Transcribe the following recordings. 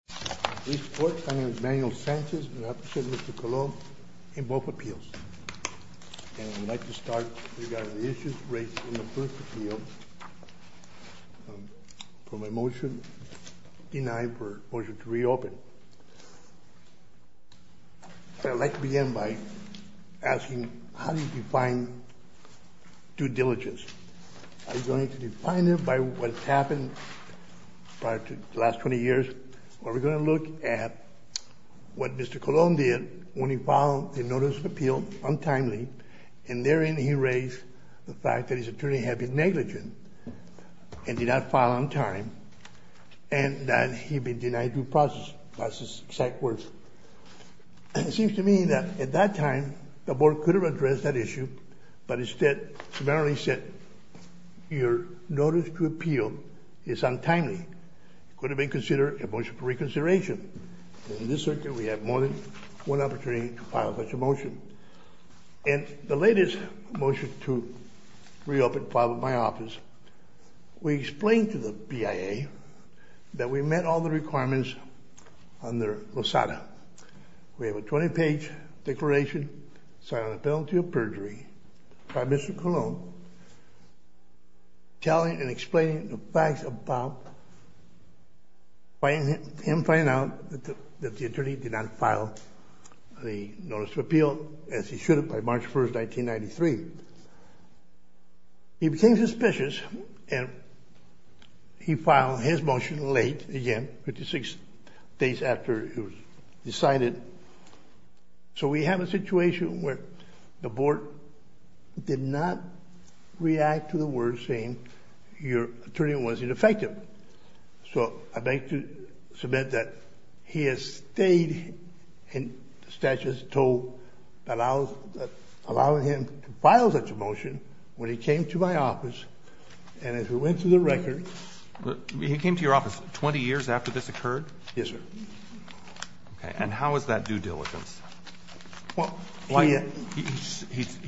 Mr. Colon-Lorenzo v. Lynch We're going to look at what Mr. Colon did when he filed a notice of appeal, untimely. And therein he raised the fact that his attorney had been negligent and did not file on time and that he'd been denied due process. That's his exact words. It seems to me that at that time the board could have addressed that issue, but instead primarily said your notice to appeal is untimely. It could have been considered a motion for reconsideration. In this circuit we have more than one opportunity to file such a motion. And the latest motion to reopen filed with my office, we explained to the BIA that we met all the requirements under LOSADA. We have a 20-page declaration signed on the penalty of perjury by Mr. Colon telling and explaining the facts about him finding out that the attorney did not file the notice of appeal as he should have by March 1, 1993. He became suspicious and he filed his motion late again, 56 days after it was decided. So we have a situation where the board did not react to the words saying your attorney was ineffective. So I'd like to submit that he has stayed in the statute that allows him to file such a motion when he came to my office and as we went through the record. He came to your office 20 years after this occurred? Yes, sir. Okay. And how is that due diligence? Well, he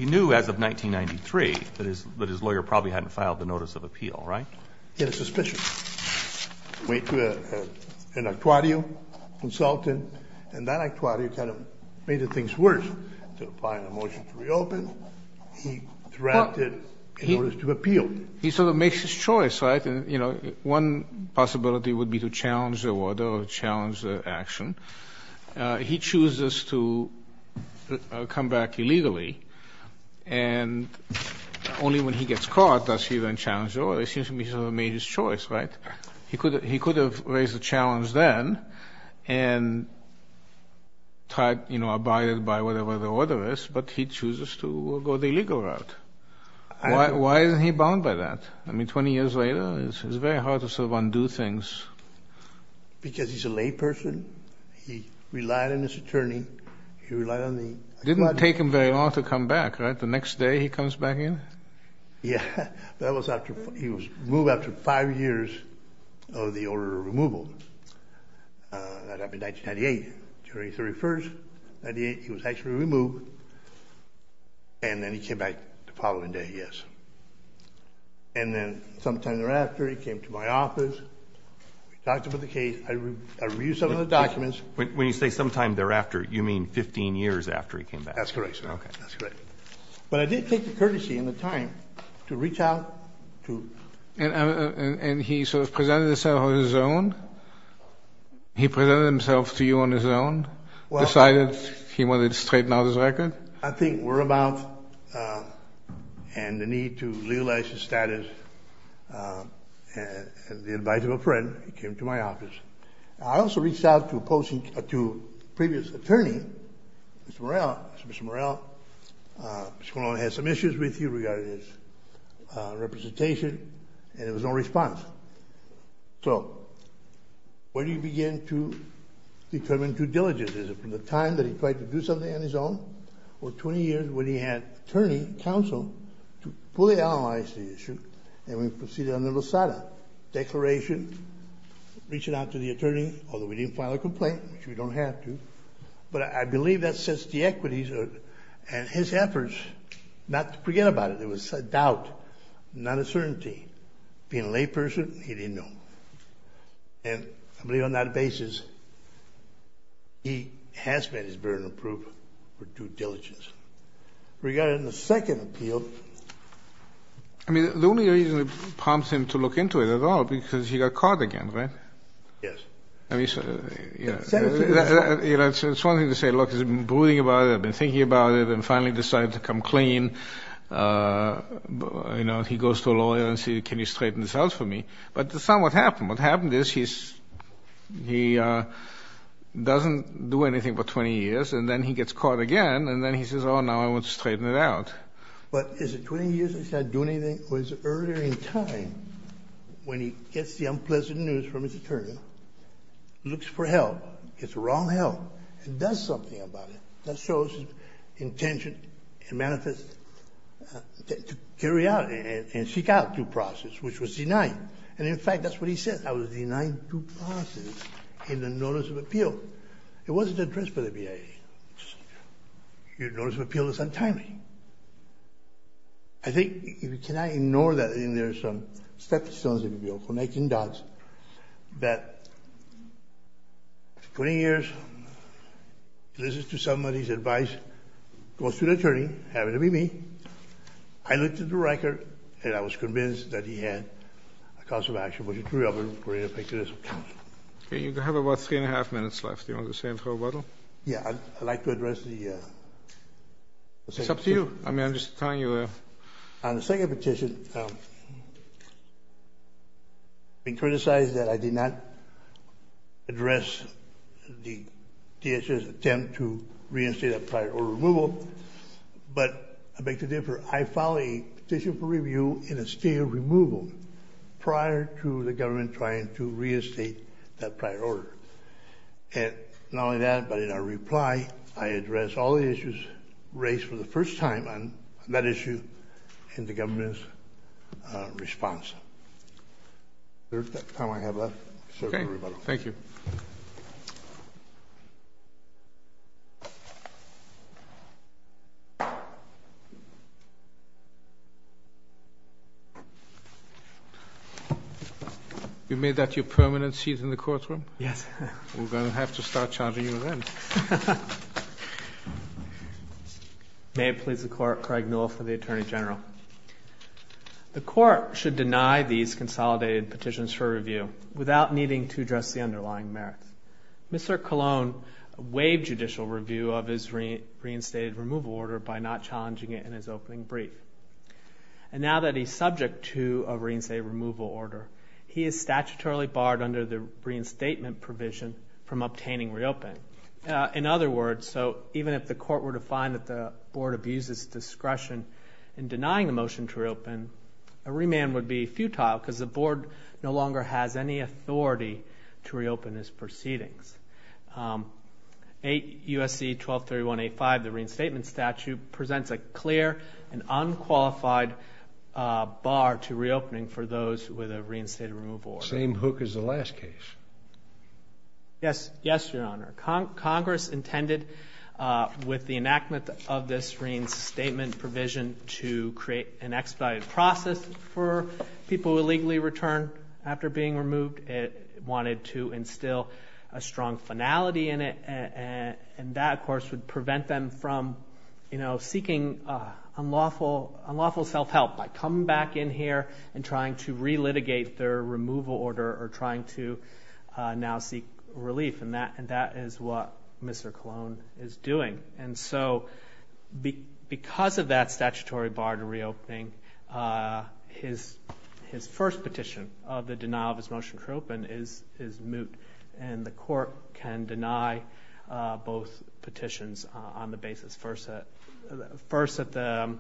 knew as of 1993 that his lawyer probably hadn't filed the notice of appeal, right? He had a suspicion. He went to an actuario consultant, and that actuario kind of made things worse. So by the motion to reopen, he threatened in order to appeal. He sort of makes his choice, right? And, you know, one possibility would be to challenge the order or challenge the action. He chooses to come back illegally, and only when he gets caught does he then challenge the order. It seems to me he sort of made his choice, right? He could have raised the challenge then and tried, you know, abided by whatever the order is, but he chooses to go the illegal route. Why isn't he bound by that? I mean, 20 years later, it's very hard to sort of undo things. Because he's a layperson. He relied on his attorney. He relied on the academy. It didn't take him very long to come back, right? The next day he comes back in? Yeah. That was after he was moved after five years of the order of removal. That happened in 1998, January 31st. In 1998, he was actually removed. And then he came back the following day, yes. And then sometime thereafter, he came to my office. We talked about the case. I reviewed some of the documents. When you say sometime thereafter, you mean 15 years after he came back? That's correct, sir. Okay. That's correct. But I did take the courtesy and the time to reach out to him. And he sort of presented himself on his own? He presented himself to you on his own? Decided he wanted to straighten out his record? I think whereabouts and the need to legalize his status, the advice of a friend, he came to my office. I also reached out to a previous attorney, Mr. Morrell. I said, Mr. Morrell, Mr. Colon has some issues with you regarding his representation. And there was no response. So where do you begin to determine due diligence? Is it from the time that he tried to do something on his own? Or 20 years when he had attorney counsel to fully analyze the issue? And we proceeded on the Losada declaration, reaching out to the attorney, although we didn't file a complaint, which we don't have to. But I believe that sets the equities. And his efforts, not to forget about it, there was a doubt, not a certainty. Being a layperson, he didn't know. And I believe on that basis, he has met his burden of proof for due diligence. Regarding the second appeal. I mean, the only reason it prompts him to look into it at all, because he got caught again, right? Yes. I mean, you know, it's one thing to say, look, I've been brooding about it, I've been thinking about it, and finally decided to come clean. You know, he goes to a lawyer and says, can you straighten this out for me? But it's not what happened. What happened is he doesn't do anything for 20 years, and then he gets caught again, and then he says, oh, now I want to straighten it out. But is it 20 years that he's not doing anything? Or is it earlier in time when he gets the unpleasant news from his attorney, looks for help, gets the wrong help, and does something about it? That shows his intention and manifest to carry out and seek out due process, which was denied. And in fact, that's what he said. I was denied due process in the notice of appeal. It wasn't addressed by the BIA. Your notice of appeal is untimely. I think, if you cannot ignore that, I think there are some steps that still need to be built. For 19 dots, that 20 years, listens to somebody's advice, goes to the attorney, happened to be me. I looked at the record, and I was convinced that he had a cause of action, which is really a great effectivism. Okay. You have about three and a half minutes left. Do you want to say anything? Mr. Weddle? Yeah, I'd like to address the second petition. It's up to you. I'm just telling you. On the second petition, it's been criticized that I did not address the DHS attempt to reinstate a prior order removal. But I beg to differ. I filed a petition for review in a state of removal prior to the government trying to reinstate that prior order. Not only that, but in our reply, I addressed all the issues raised for the first time on that issue in the government's response. Is there time I have left? Okay. Thank you. You've made that your permanent seat in the courtroom? Yes. We're going to have to start charging you then. May it please the Court, Craig Newell for the Attorney General. The Court should deny these consolidated petitions for review without needing to address the underlying merits. Mr. Colon waived judicial review of his reinstated removal order by not challenging it in his opening brief. And now that he's subject to a reinstate removal order, he is statutorily barred under the reinstatement provision from obtaining reopen. In other words, so even if the Court were to find that the Board abuses discretion in denying the motion to reopen, a remand would be futile because the Board no longer has any authority to reopen his proceedings. USC 1231A5, the reinstatement statute, presents a clear and unqualified bar to reopening for those with a reinstated removal order. Same hook as the last case. Yes, Your Honor. Congress intended with the enactment of this reinstatement provision to create an expedited process for people illegally returned after being removed. It wanted to instill a strong finality in it. And that, of course, would prevent them from, you know, seeking unlawful self-help by coming back in here and trying to relitigate their removal order or trying to now seek relief. And that is what Mr. Colon is doing. And so because of that statutory bar to reopening, his first petition of the denial of his motion to reopen is moot. And the Court can deny both petitions on the basis, first, that the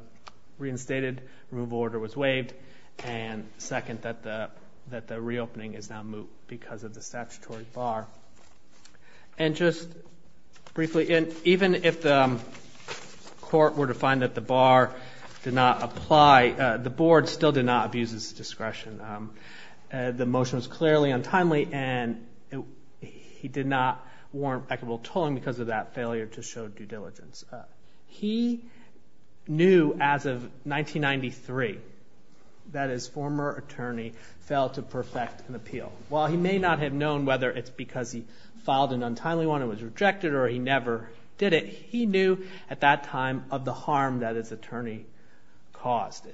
reinstated removal order was waived, and second, that the reopening is now moot because of the statutory bar. And just briefly, even if the Court were to find that the bar did not apply, the Board still did not abuse its discretion. The motion was clearly untimely, and he did not warrant equitable tolling because of that failure to show due diligence. He knew as of 1993 that his former attorney failed to perfect an appeal. While he may not have known whether it's because he filed an untimely one and was rejected or he never did it, he knew at that time of the harm that his attorney caused.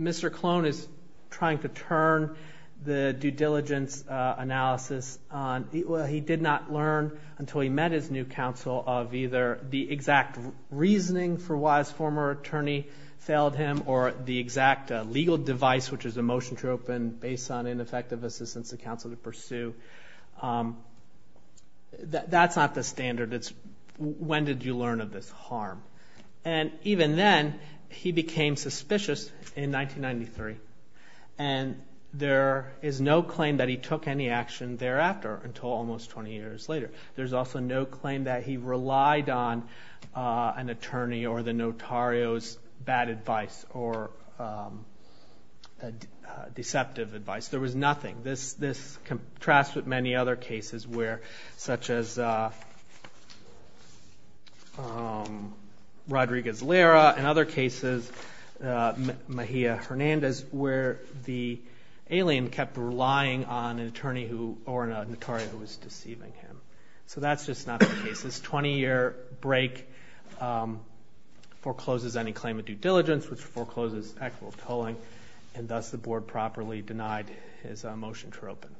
Mr. Colon is trying to turn the due diligence analysis on. He did not learn until he met his new counsel of either the exact reasoning for why his former attorney failed him or the exact legal device, which is a motion to open based on ineffective assistance the counsel to pursue. That's not the standard. It's when did you learn of this harm. And even then, he became suspicious in 1993, and there is no claim that he took any action thereafter until almost 20 years later. There's also no claim that he relied on an attorney or the notario's bad advice or deceptive advice. There was nothing. This contrasts with many other cases such as Rodriguez-Lara and other cases, Mejia-Hernandez, where the alien kept relying on an attorney or notario who was deceiving him. So that's just not the case. This 20-year break forecloses any claim of due diligence, which forecloses equitable tolling, and thus the board properly denied his motion to reopen.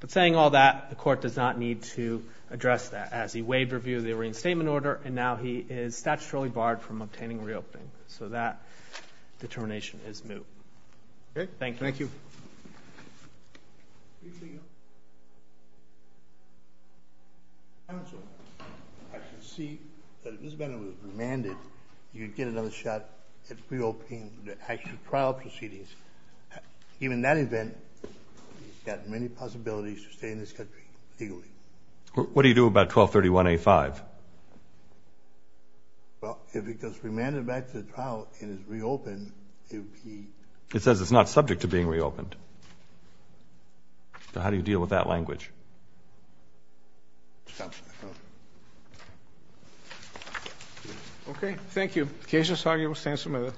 But saying all that, the court does not need to address that. As he waived review of the arraigned statement order, and now he is statutorily barred from obtaining reopening. So that determination is moot. Thank you. Thank you. Briefly, Your Honor. Counsel, I can see that if this matter was remanded, you'd get another shot at reopening the actual trial proceedings. Even in that event, he's got many possibilities to stay in this country legally. What do you do about 1231A5? Well, if it goes remanded back to the trial and is reopened, it would be ---- It says it's not subject to being reopened. So how do you deal with that language? Okay. Thank you.